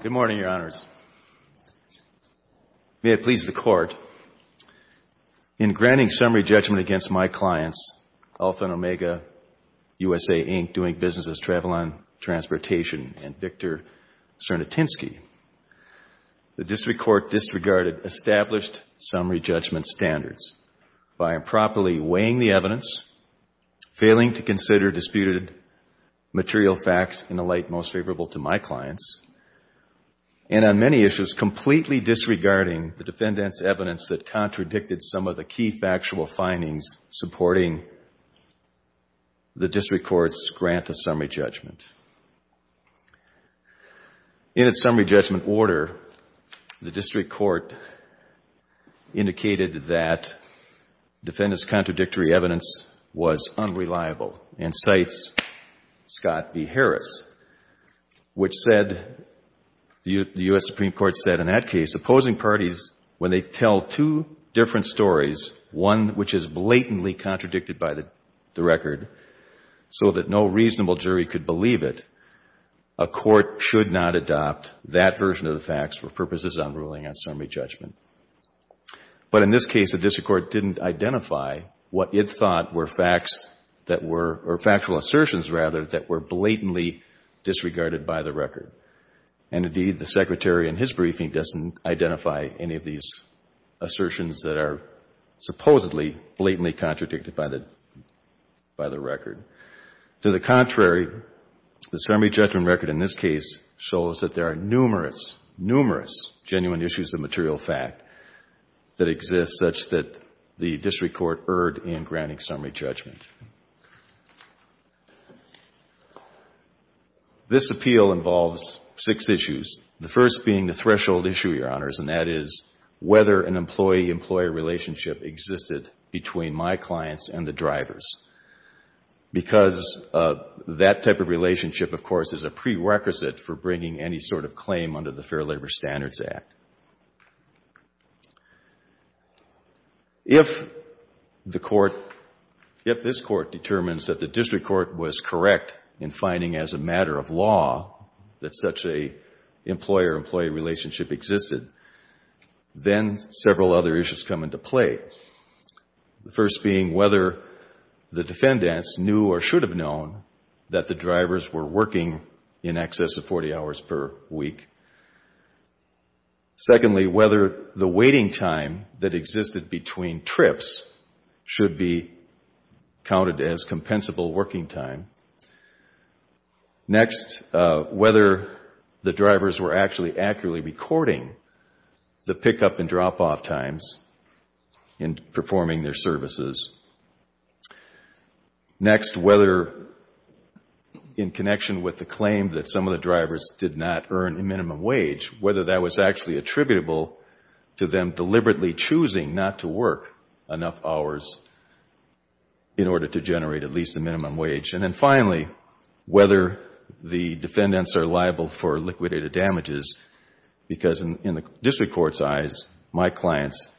Good morning, Your Honors. May it please the Court, in granting summary judgment against my clients, Alpha & Omega USA, Inc., Doing Business as Travel and Transportation, and Victor Cernotinsky, the District Court disregarded established summary judgment standards by properly weighing the evidence, failing to consider disputed material facts in a light most favorable to my clients, and on many issues, completely disregarding the defendant's evidence that contradicted some of the key factual findings supporting the District Court's grant of summary judgment. In its summary judgment order, the District Court indicated that defendant's contradictory evidence was unreliable and cites Scott v. Harris, which the U.S. Supreme Court said in that case, opposing parties, when they tell two different stories, one which is blatantly contradicted by the record so that no reasonable jury could believe it, a court should not adopt that version of the facts for purposes of ruling on summary judgment. But in this case, the District Court didn't identify what it thought were factual assertions rather that were blatantly disregarded by the record. And indeed, the Secretary in his To the contrary, the summary judgment record in this case shows that there are numerous, numerous genuine issues of material fact that exist such that the District Court erred in granting summary judgment. This appeal involves six issues, the first being the threshold issue, Your Honors, and that is whether an employee-employee relationship existed between my clients and the drivers. Because that type of relationship, of course, is a prerequisite for bringing any sort of claim under the Fair Labor Standards Act. If the Court, if this Court determines that the District Court was correct in finding as a matter of law that such a employer-employee relationship existed, then several other issues come into play, the first being whether the defendants knew or should have known that the drivers were working in excess of 40 hours per week. Secondly, whether the waiting time that existed between trips should be counted as compensable working time. Next, whether the drivers were actually accurately recording the pickup and drop-off times in performing their services. Next, whether in connection with the claim that some of the drivers did not earn a minimum wage, whether that was actually attributable to them deliberately choosing not to work enough hours in order to generate at least a minimum wage. And then finally, whether the defendants are liable for liquidated damages, because in the District Court's eyes, my clients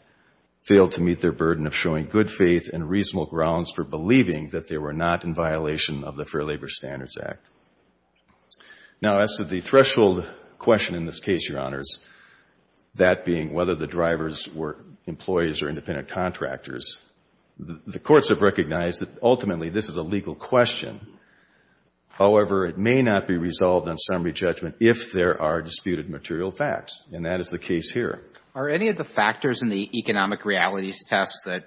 failed to meet their burden of showing good faith and reasonable grounds for believing that they were not in violation of the Fair Labor Standards Act. Now as to the threshold question in this case, Your Honors, that being whether the drivers were employees or independent contractors, the courts have recognized that ultimately this is a legal question. However, it may not be resolved on summary judgment if there are disputed material facts, and that is the case here. Are any of the factors in the economic realities test that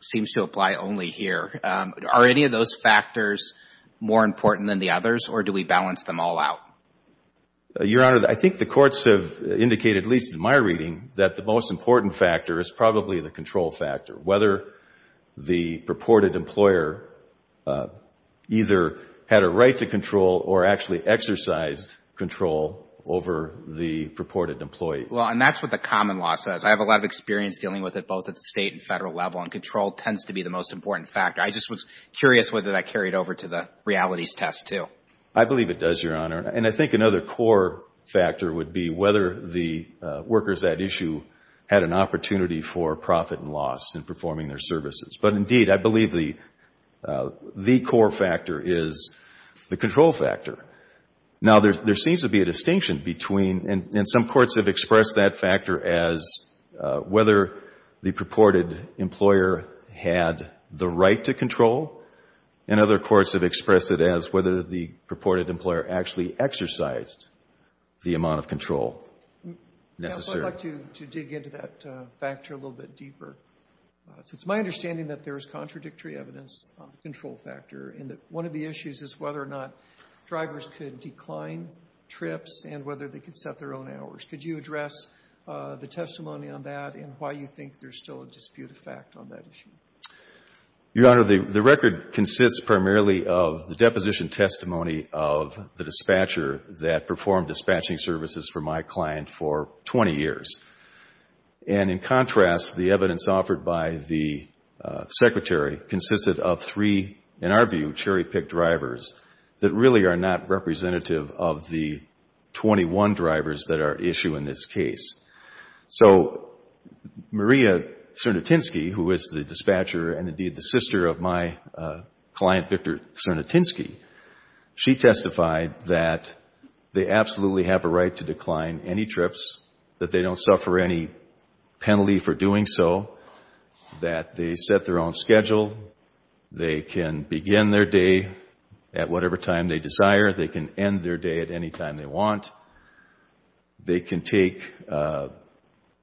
seems to apply only here, are any of those factors more important than the others, or do we balance them all out? Your Honor, I think the courts have indicated, at least in my reading, that the most important factor is probably the control factor, whether the purported employer either had a right to control or actually exercised control over the purported employee. Well, and that's what the common law says. I have a lot of experience dealing with it both at the State and Federal level, and control tends to be the most important factor. I just was curious whether that carried over to the realities test too. I believe it does, Your Honor. And I think another core factor would be whether the workers at issue had an opportunity for profit and loss in performing their services. But indeed, I believe the core factor is the control factor. Now, there seems to be a distinction between, and some courts have expressed that factor as whether the purported employer had the right to control, and other courts have expressed it as whether the purported employer actually exercised the amount of control necessary. I'd like to dig into that factor a little bit deeper. It's my understanding that there is contradictory evidence on the control factor, and that one of the issues is whether or not drivers could decline trips and whether they could set their own hours. Could you address the testimony on that and why you think there's still a dispute effect on that issue? Your Honor, the record consists primarily of the deposition testimony of the dispatcher that performed dispatching services for my client for 20 years. And in contrast, the evidence offered by the Secretary consisted of three, in our view, cherry-picked drivers that really are not representative of the 21 drivers that are at issue in this case. So, Maria Cernutinsky, who is the dispatcher and indeed the sister of my client, Victor Cernutinsky, she testified that they absolutely have a right to decline any trips, that they don't suffer any penalty for doing so, that they set their own schedule, they can begin their day at whatever time they desire, they can end their day at any time they want, they can take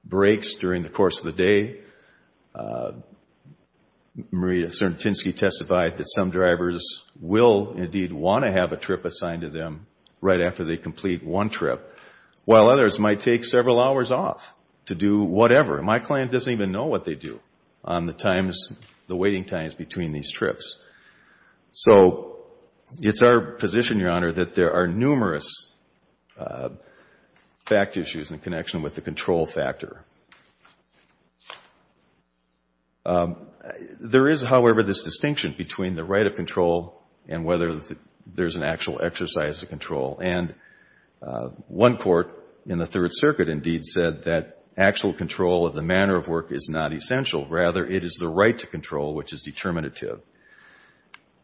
breaks during the course of the day. Maria Cernutinsky testified that some drivers will indeed want to have a trip assigned to them right after they complete one trip, while others might take several hours off to do whatever. My client doesn't even know what they do on the times, the waiting times between these trips. So, it's our position, Your Honor, that there are numerous fact issues in connection with the control factor. There is, however, this distinction between the right of control and whether there is an actual exercise of control. And one court in the Third Circuit indeed said that actual control of the manner of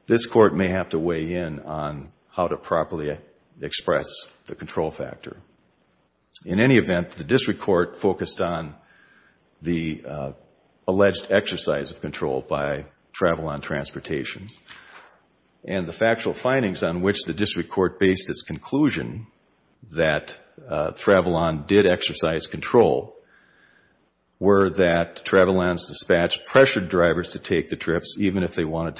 This court may have to weigh in on how to properly express the control factor. In any event, the district court focused on the alleged exercise of control by travel on transportation, and the factual findings on which the district court based its conclusion that travel on did exercise control were that travel ons dispatched pressured drivers to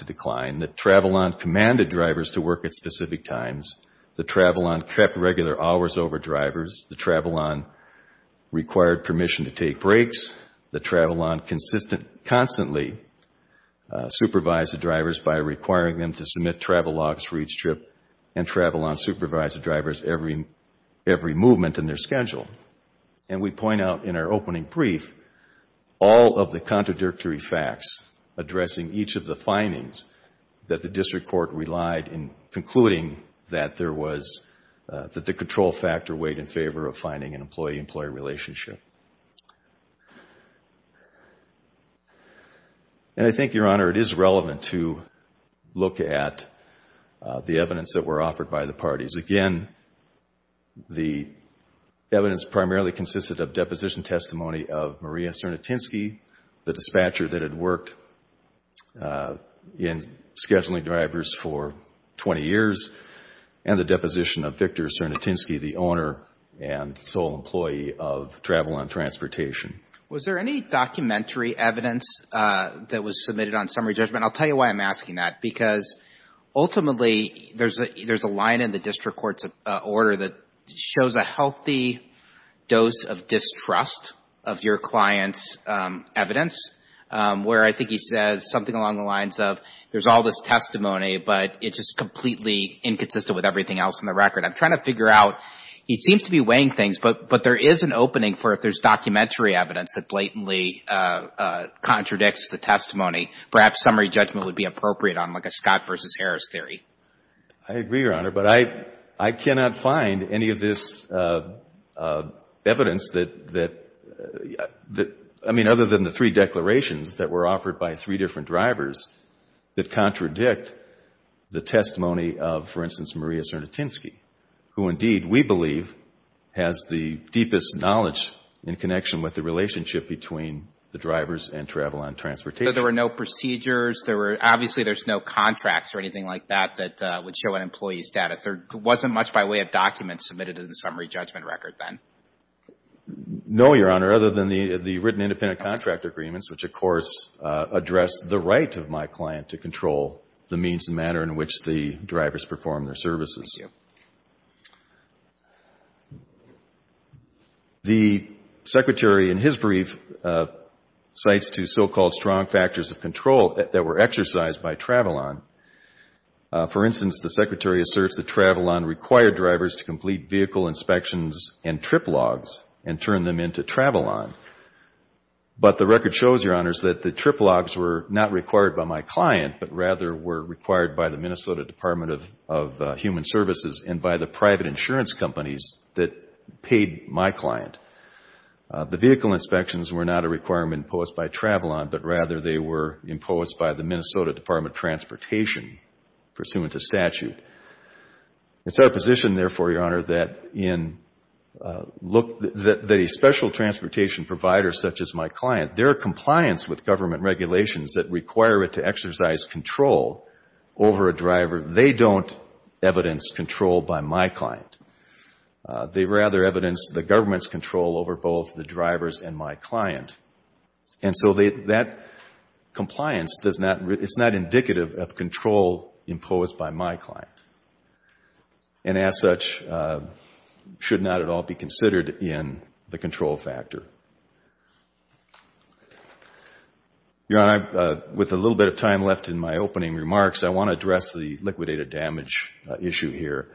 decline, that travel on commanded drivers to work at specific times, the travel on kept regular hours over drivers, the travel on required permission to take breaks, the travel on constantly supervised the drivers by requiring them to submit travel logs for each trip, and travel on supervised the drivers every movement in their schedule. And we point out in our opening brief all of the contradictory facts addressing each of the findings that the district court relied in concluding that there was, that the control factor weighed in favor of finding an employee-employee relationship. And I think, Your Honor, it is relevant to look at the evidence that were offered by the parties. Again, the evidence primarily consisted of deposition testimony of Maria Cernotinsky, the dispatcher that had worked in scheduling drivers for 20 years, and the deposition of Victor Cernotinsky, the owner and sole employee of travel on transportation. Was there any documentary evidence that was submitted on summary judgment? I'll tell you why I'm asking that, because ultimately there's a line in the district court's order that shows a healthy dose of distrust of your client's evidence, where I think he says something along the lines of, there's all this testimony, but it's just completely inconsistent with everything else in the record. I'm trying to figure out, he seems to be weighing things, but there is an opening for if there's documentary evidence that blatantly contradicts the testimony, perhaps summary judgment would be appropriate on like a Scott v. Harris theory. I agree, Your Honor, but I cannot find any of this evidence that, I mean, other than the three declarations that were offered by three different drivers that contradict the testimony of, for instance, Maria Cernotinsky, who indeed, we believe, has the deepest knowledge in connection with the relationship between the drivers and travel on transportation. So there were no procedures, there were, obviously there's no contracts or anything like that that would show an employee's status. There wasn't much by way of documents submitted in the summary judgment record then? No, Your Honor, other than the written independent contract agreements, which, of course, address the right of my client to control the means and manner in which the drivers perform their services. Thank you. The Secretary, in his brief, cites two so-called strong factors of control that were exercised by travel on. For instance, the Secretary asserts that travel on required drivers to complete vehicle inspections and trip logs and turn them into travel on. But the record shows, Your Honors, that the trip logs were not required by my client, but rather were services and by the private insurance companies that paid my client. The vehicle inspections were not a requirement imposed by travel on, but rather they were imposed by the Minnesota Department of Transportation pursuant to statute. It's our position, therefore, Your Honor, that a special transportation provider such as my client, their compliance with government regulations that require it to exercise control over a driver, they don't evidence control by my client. They rather evidence the government's control over both the drivers and my client. And so that compliance does not, it's not indicative of control imposed by my client and, as such, should not at all be considered in the control factor. Your Honor, with a little bit of time left in my opening remarks, I want to address the liquidated damage issue here.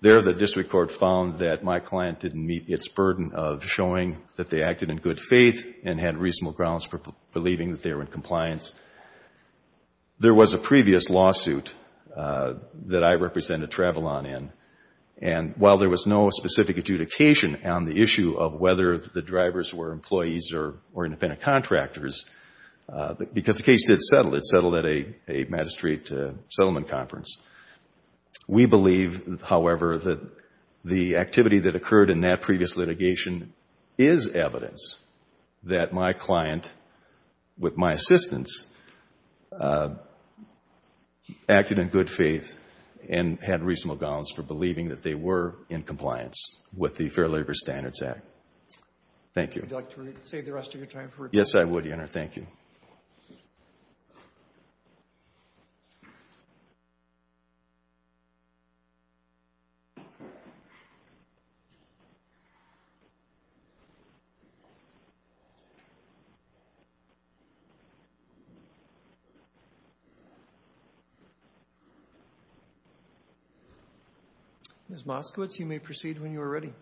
There the district court found that my client didn't meet its burden of showing that they acted in good faith and had reasonable grounds for believing that they were in compliance. There was a previous lawsuit that I represented travel on in, and while there was no specific adjudication on the issue of whether the drivers were employees or independent contractors, because the case did settle, it settled at a magistrate settlement conference, we believe, however, that the activity that occurred in that previous litigation is evidence that my client, with my assistance, acted in good faith and had reasonable grounds for believing that they were in compliance with the Fair Labor Standards Act. Thank you. Ms. Moskowitz, you may proceed when you are ready.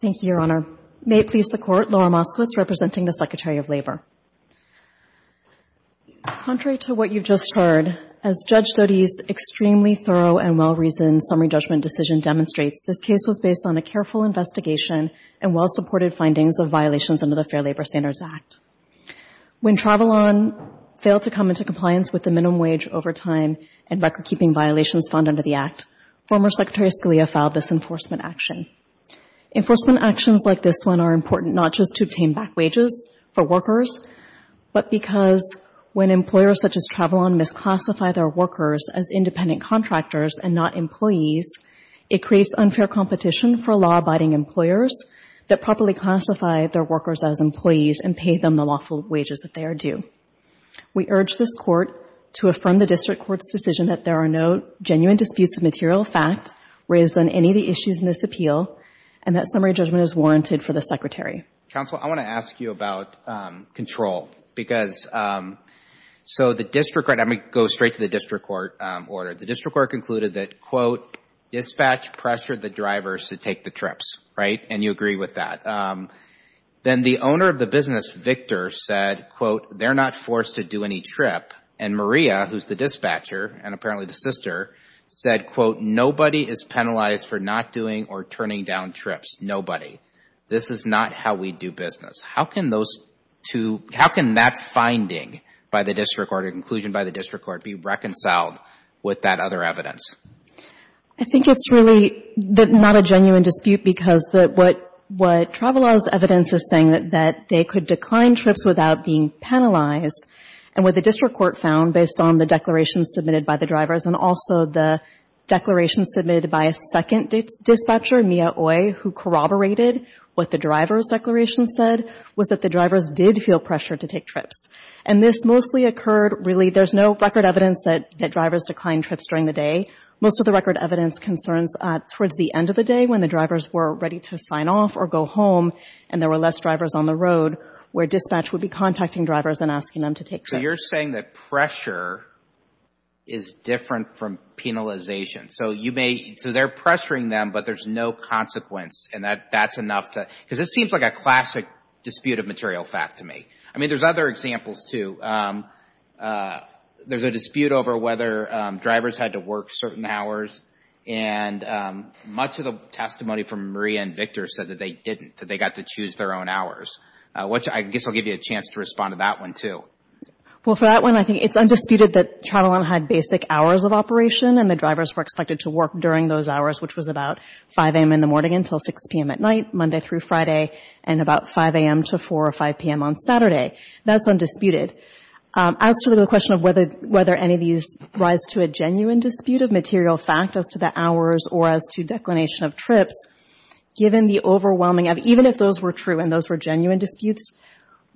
Thank you, Your Honor. May it please the Court, Laura Moskowitz, representing the Secretary of Labor. Contrary to what you've just heard, as Judge Sote's extremely thorough and well-reasoned summary judgment decision demonstrates, this case was based on a careful investigation and well-supported findings of violations under the Fair Labor Standards Act. When travel on failed to come into compliance with the minimum wage overtime and record-keeping violations found under the Act, former Secretary Scalia filed this enforcement action. Enforcement actions like this one are important not just to obtain back wages for workers, but because when employers such as travel on misclassify their workers as independent contractors and not employees, it creates unfair competition for law-abiding employers that properly classify their workers as employees and pay them the lawful wages that they are due. We urge this Court to affirm the District Court's decision that there are no genuine disputes of material fact raised on any of the issues in this appeal, and that summary judgment is warranted for the Secretary. Counsel, I want to ask you about control, because, so the District Court concluded that, quote, dispatch pressured the drivers to take the trips, right? And you agree with that. Then the owner of the business, Victor, said, quote, they're not forced to do any trip. And Maria, who's the dispatcher, and apparently the sister, said, quote, nobody is penalized for not doing or turning down trips. Nobody. This is not how we do business. How can those two, how can that finding by the District Court or conclusion by the District Court be reconciled with that other evidence? I think it's really not a genuine dispute because what travel law's evidence is saying that they could decline trips without being penalized, and what the District Court found based on the declaration submitted by the drivers and also the declaration submitted by a second dispatcher, Mia Oye, who corroborated what the driver's declaration said, was that the drivers did feel pressure to take trips. And this mostly occurred really, there's no record evidence that drivers declined trips during the day. Most of the record evidence concerns towards the end of the day when the drivers were ready to sign off or go home, and there were less drivers on the road, where dispatch would be contacting drivers and asking them to take trips. So you're saying that pressure is different from penalization. So you may, so they're pressuring them, but there's no consequence, and that's enough to, because it seems like a classic dispute of material fact to me. I mean, there's other examples too. There's a dispute over whether drivers had to work certain hours, and much of the testimony from Maria and Victor said that they didn't, that they got to choose their own hours, which I guess I'll give you a chance to respond to that one too. Well, for that one, I think it's undisputed that Travelon had basic hours of operation and the drivers were expected to work during those hours, which was about 5 a.m. in the morning until 6 p.m. at night, Monday through Friday, and about 5 a.m. to 4 or 5 p.m. on Saturday. That's undisputed. As to the question of whether any of these rise to a genuine dispute of material fact as to the hours or as to declination of trips, given the overwhelming evidence, even if those were true and those were genuine disputes,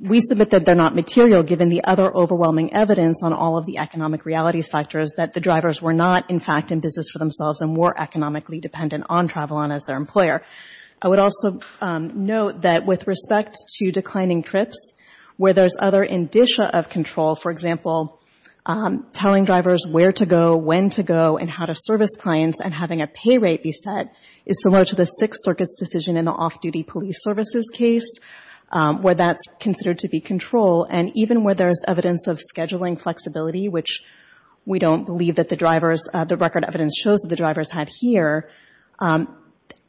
we submit that they're not material given the other overwhelming evidence on all of the economic realities factors that the drivers were not, in fact, in business for themselves and were economically dependent on Travelon as their employer. I would also note that with respect to declining trips, where there's other indicia of control, for example, telling drivers where to go, when to go, and how to service clients, and having a pay rate be set is similar to the Sixth Circuit's decision in the off-duty police services case, where that's considered to be control. And even where there's evidence of scheduling flexibility, which we don't believe that the drivers — the record evidence shows that the drivers had here,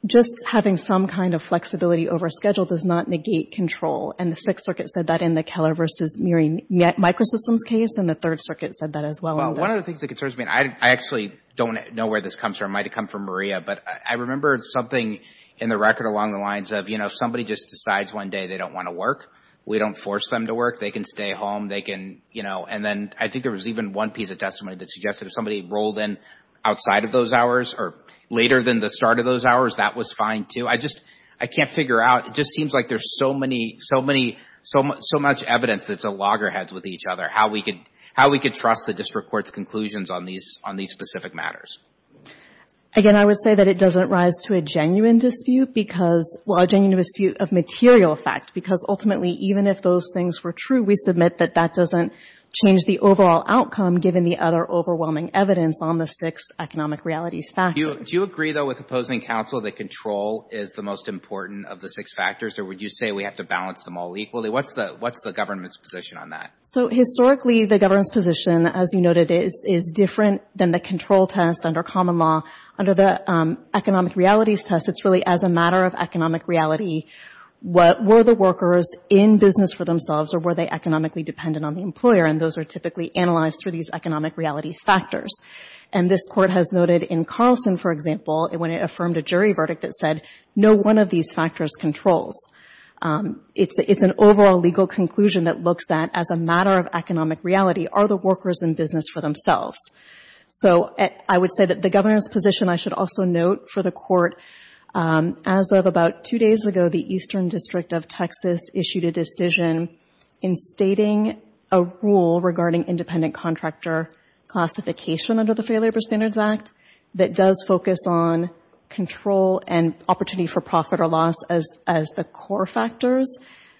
just having some kind of flexibility over schedule does not negate control. And the Sixth Circuit said that in the Keller v. Murry Microsystems case, and the Third Circuit said that as well. One of the things that concerns me, and I actually don't know where this comes from, it might have come from Maria, but I remember something in the record along the lines of, you know, if somebody just decides one day they don't want to work, we don't force them to work, they can stay home, they can, you know, and then I think there was even one piece of testimony that suggested if somebody rolled in outside of those hours or later than the start of those hours, that was fine, too. I just, I can't figure out, it just seems like there's so many, so much evidence that's at loggerheads with each other. How we could, how we could trust the district court's conclusions on these, on these specific matters. Again, I would say that it doesn't rise to a genuine dispute because, well, a genuine dispute of material effect, because ultimately, even if those things were true, we submit that that doesn't change the overall outcome, given the other overwhelming evidence on the six economic realities factors. Do you agree, though, with opposing counsel that control is the most important of the six factors, or would you say we have to balance them all equally? What's the, what's the government's position on that? So, historically, the government's position, as you noted, is, is different than the control test under common law. Under the economic realities test, it's really as a matter of economic reality, what, were the workers in business for themselves, or were they economically dependent on the employer? And those are typically analyzed through these economic realities factors. And this Court has noted in Carlson, for example, when it affirmed a jury verdict that said no one of these factors controls. It's, it's an overall legal conclusion that looks at as a matter of economic reality, are the workers in business for themselves? So, I would say that the government's position, I should also note for the Court, as of about two days ago, the Eastern District of Texas issued a decision in stating a rule regarding independent contractor classification under the Fair Labor Standards Act that does focus on control and opportunity for profit or loss as, as the core factors.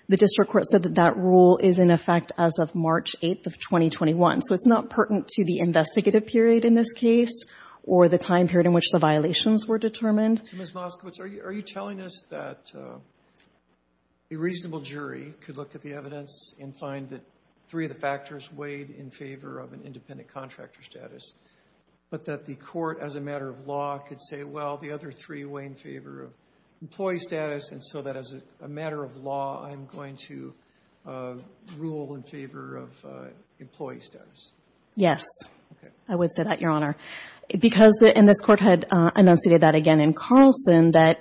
The district court said that that rule is in effect as of March 8th of 2021. So, it's not pertinent to the investigative period in this case or the time period in which the violations were determined. So, Ms. Moskowitz, are you, are you telling us that a reasonable jury could look at the evidence and find that three of the factors weighed in favor of an independent contractor status, but that the Court, as a matter of law, could say, well, the other three weigh in favor of employee status, and so that, as a matter of law, I'm going to rule in favor of employee status? Yes. Okay. I would say that, Your Honor. Because the, and this Court had enunciated that again in Carlson that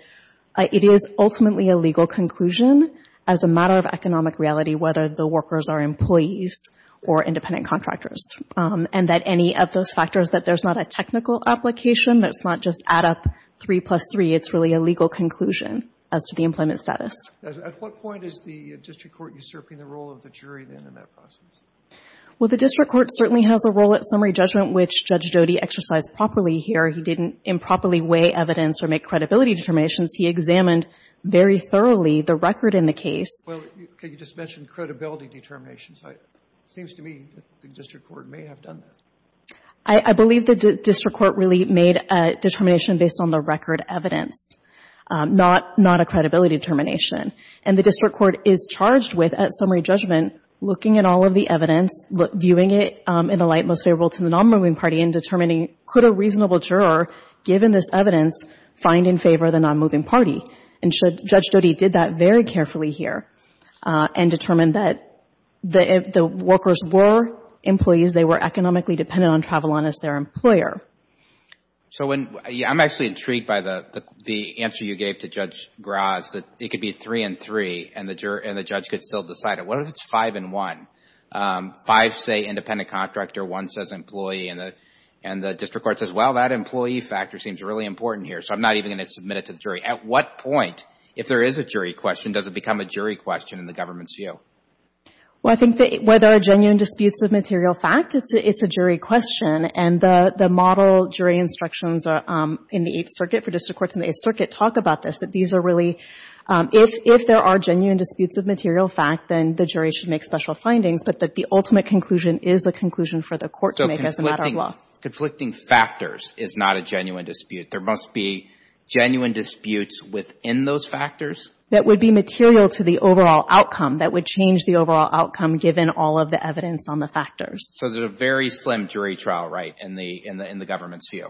it is ultimately a legal conclusion as a matter of economic reality whether the workers are employees or independent contractors. And that any of those factors, that there's not a technical application, that's not just add up three plus three, it's really a legal conclusion as to the employment status. At what point is the district court usurping the role of the jury then in that process? Well, the district court certainly has a role at summary judgment, which Judge Jody exercised properly here. He didn't improperly weigh evidence or make credibility determinations. He examined very thoroughly the record in the case. Well, could you just mention credibility determinations? It seems to me that the district court may have done that. I believe the district court really made a determination based on the record evidence, not a credibility determination. And the district court is charged with, at summary judgment, looking at all of the evidence, viewing it in a light most favorable to the nonmoving party, and determining could a reasonable juror, given this evidence, find in favor of the nonmoving party. And Judge Jody did that very carefully here and determined that if the workers were employees, they were economically dependent on Travolon as their employer. So I'm actually intrigued by the answer you gave to Judge Graz, that it could be three and three, and the judge could still decide it. What if it's five and one? Five say independent contractor, one says employee, and the district court says, well, that employee factor seems really important here, so I'm not even going to submit it to the jury. At what point, if there is a jury question, does it become a jury question in the government's view? Well, I think that whether a genuine disputes of material fact, it's a jury question. And the model jury instructions in the Eighth Circuit for district courts in the Eighth Circuit talk about this, that these are really, if there are genuine disputes of material fact, then the jury should make special findings, but that the ultimate conclusion is a conclusion for the court to make as a matter of law. So conflicting factors is not a genuine dispute. There must be genuine disputes within those factors? That would be material to the overall outcome, that would change the overall outcome given all of the evidence on the factors. So there's a very slim jury trial, right, in the government's view?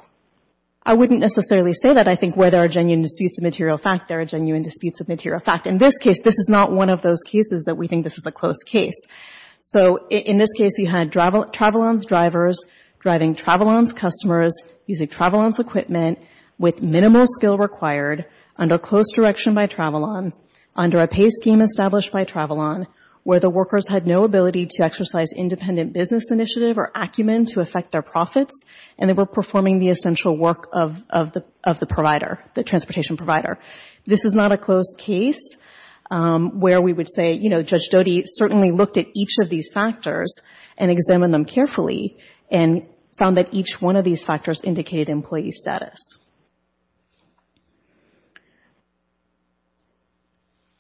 I wouldn't necessarily say that. I think where there are genuine disputes of material fact, there are genuine disputes of material fact. In this case, this is not one of those cases that we think this is a close case. So in this case, we had travel loans drivers driving travel loans customers using travel loans equipment with minimal skill required under a closed direction by travel loan, under a pay scheme established by travel loan, where the workers had no ability to exercise independent business initiative or acumen to affect their profits, and they were performing the essential work of the provider, the transportation provider. This is not a close case where we would say, you know, Judge Doty certainly looked at each of these factors and examined them carefully and found that each one of these factors affected the employee's status.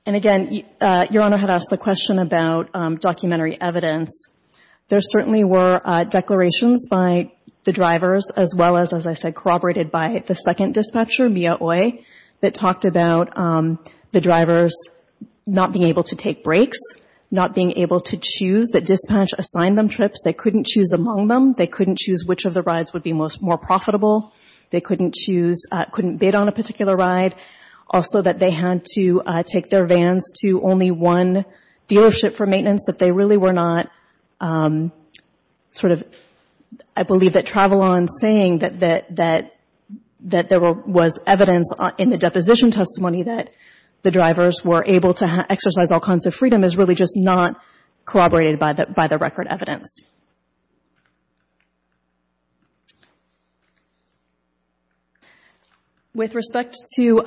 And again, Your Honor had asked the question about documentary evidence. There certainly were declarations by the drivers, as well as, as I said, corroborated by the second dispatcher, Mia Oye, that talked about the drivers not being able to take breaks, not being able to choose, that dispatch assigned them trips. They couldn't choose among them. They couldn't choose which of the rides would be more profitable. They couldn't choose, couldn't bid on a particular ride. Also that they had to take their vans to only one dealership for maintenance, that they really were not sort of, I believe that travel loans saying that there was evidence in the deposition testimony that the drivers were able to exercise all kinds of freedom is really just not corroborated by the record evidence. With respect to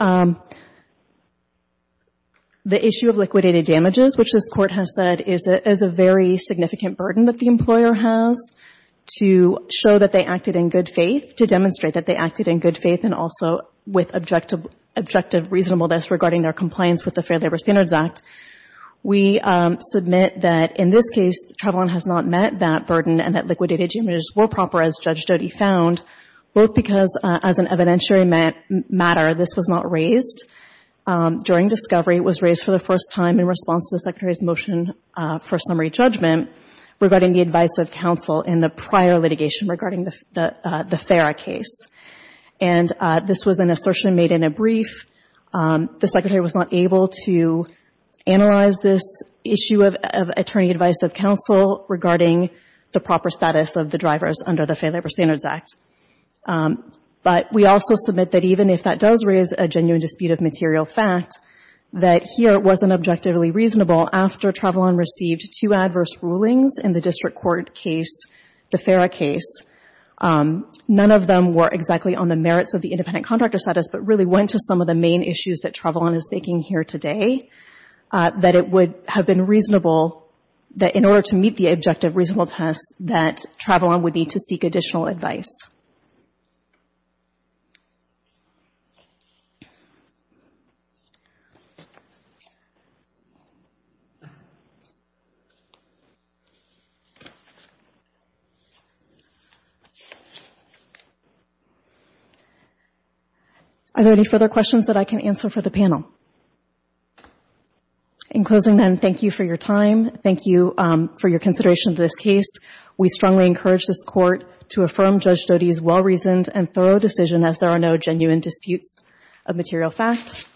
the issue of liquidated damages, which this Court has said is a very significant burden that the employer has to show that they acted in good faith, to demonstrate that they acted in good faith and also with objective reasonableness regarding their compliance with the Fair Labor Standards Act, we submit that in this case travel has not met that burden and that liquidated damages were proper as Judge Jody found, both because as an evidentiary matter this was not raised during discovery. It was raised for the first time in response to the Secretary's motion for summary judgment regarding the advice of counsel in the prior litigation regarding the FARA case. And this was an assertion made in a brief. The Secretary was not able to analyze this issue of attorney advice of counsel regarding the proper status of the drivers under the Fair Labor Standards Act. But we also submit that even if that does raise a genuine dispute of material fact, that here it wasn't objectively reasonable after Travelon received two adverse rulings in the district court case, the FARA case, none of them were exactly on the main issues that Travelon is making here today, that it would have been reasonable that in order to meet the objective reasonable test that Travelon would need to seek additional advice. Are there any further questions that I can answer for the panel? In closing then, thank you for your time. Thank you for your consideration of this case. We strongly encourage this Court to affirm Judge Jodi's well-reasoned and thorough decision as there are no genuine disputes of material fact,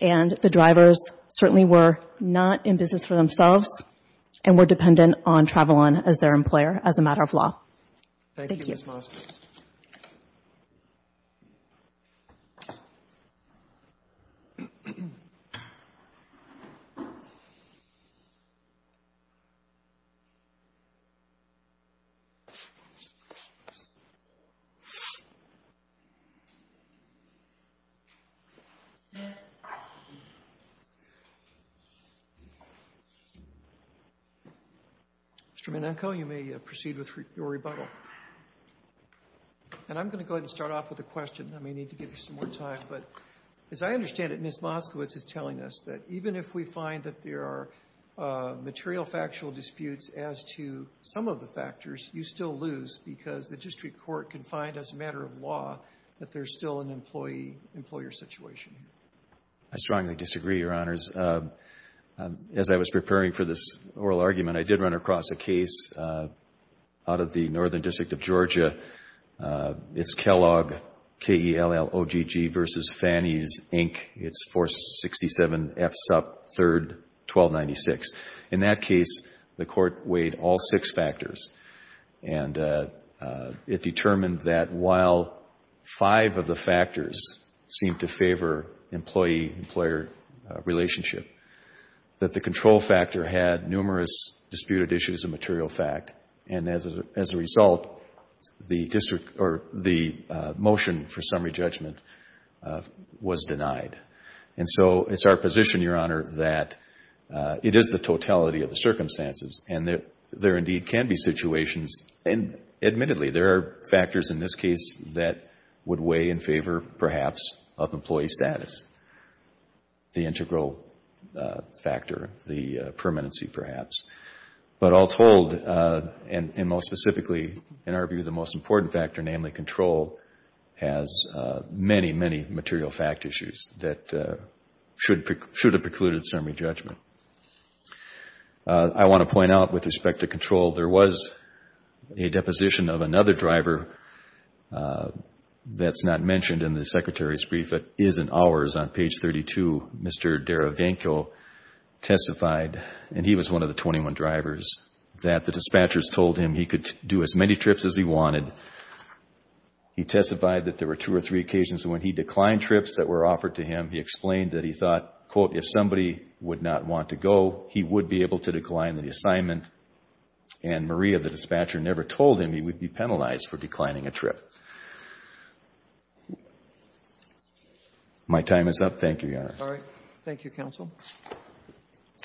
and the drivers certainly were not in business for themselves and were dependent on Travelon as their employer as a matter of law. Thank you. Mr. Menenco, you may proceed with your rebuttal. And I'm going to go ahead and start off with a question. I may need to give you some more time, but as I understand it, Ms. Moskowitz is telling us that even if we find that there are material factual disputes as to some of the factors, you still lose because the district court can find as a matter of law that there's still an employee employer situation. I strongly disagree, Your Honors. As I was preparing for this oral argument, I did run across a case out of the Northern District of Georgia. It's Kellogg, K-E-L-L-O-G-G v. Fannies, Inc. It's 467 F. Supp. 3, 1296. In that case, the Court weighed all six factors, and it determined that while five of the factors seemed to favor employee-employer relationship, that the control factor had numerous disputed issues of material fact, and as a result, the motion for summary judgment, the district court found that was denied. It is the totality of the circumstances, and there indeed can be situations, and admittedly, there are factors in this case that would weigh in favor, perhaps, of employee status, the integral factor, the permanency, perhaps. But all told, and most specifically, in our view, the most important factor, namely that the control has many, many material fact issues that should have precluded summary judgment. I want to point out, with respect to control, there was a deposition of another driver that's not mentioned in the Secretary's brief, but is in ours on page 32. Mr. Derevenko testified, and he was one of the 21 drivers, that the dispatchers told him he could do as many trips as he wanted. He testified that there were two or three occasions when he declined trips that were offered to him. He explained that he thought, quote, if somebody would not want to go, he would be able to decline the assignment, and Maria, the dispatcher, never told him he would be penalized for declining a trip. My time is up. Thank you, Your Honor.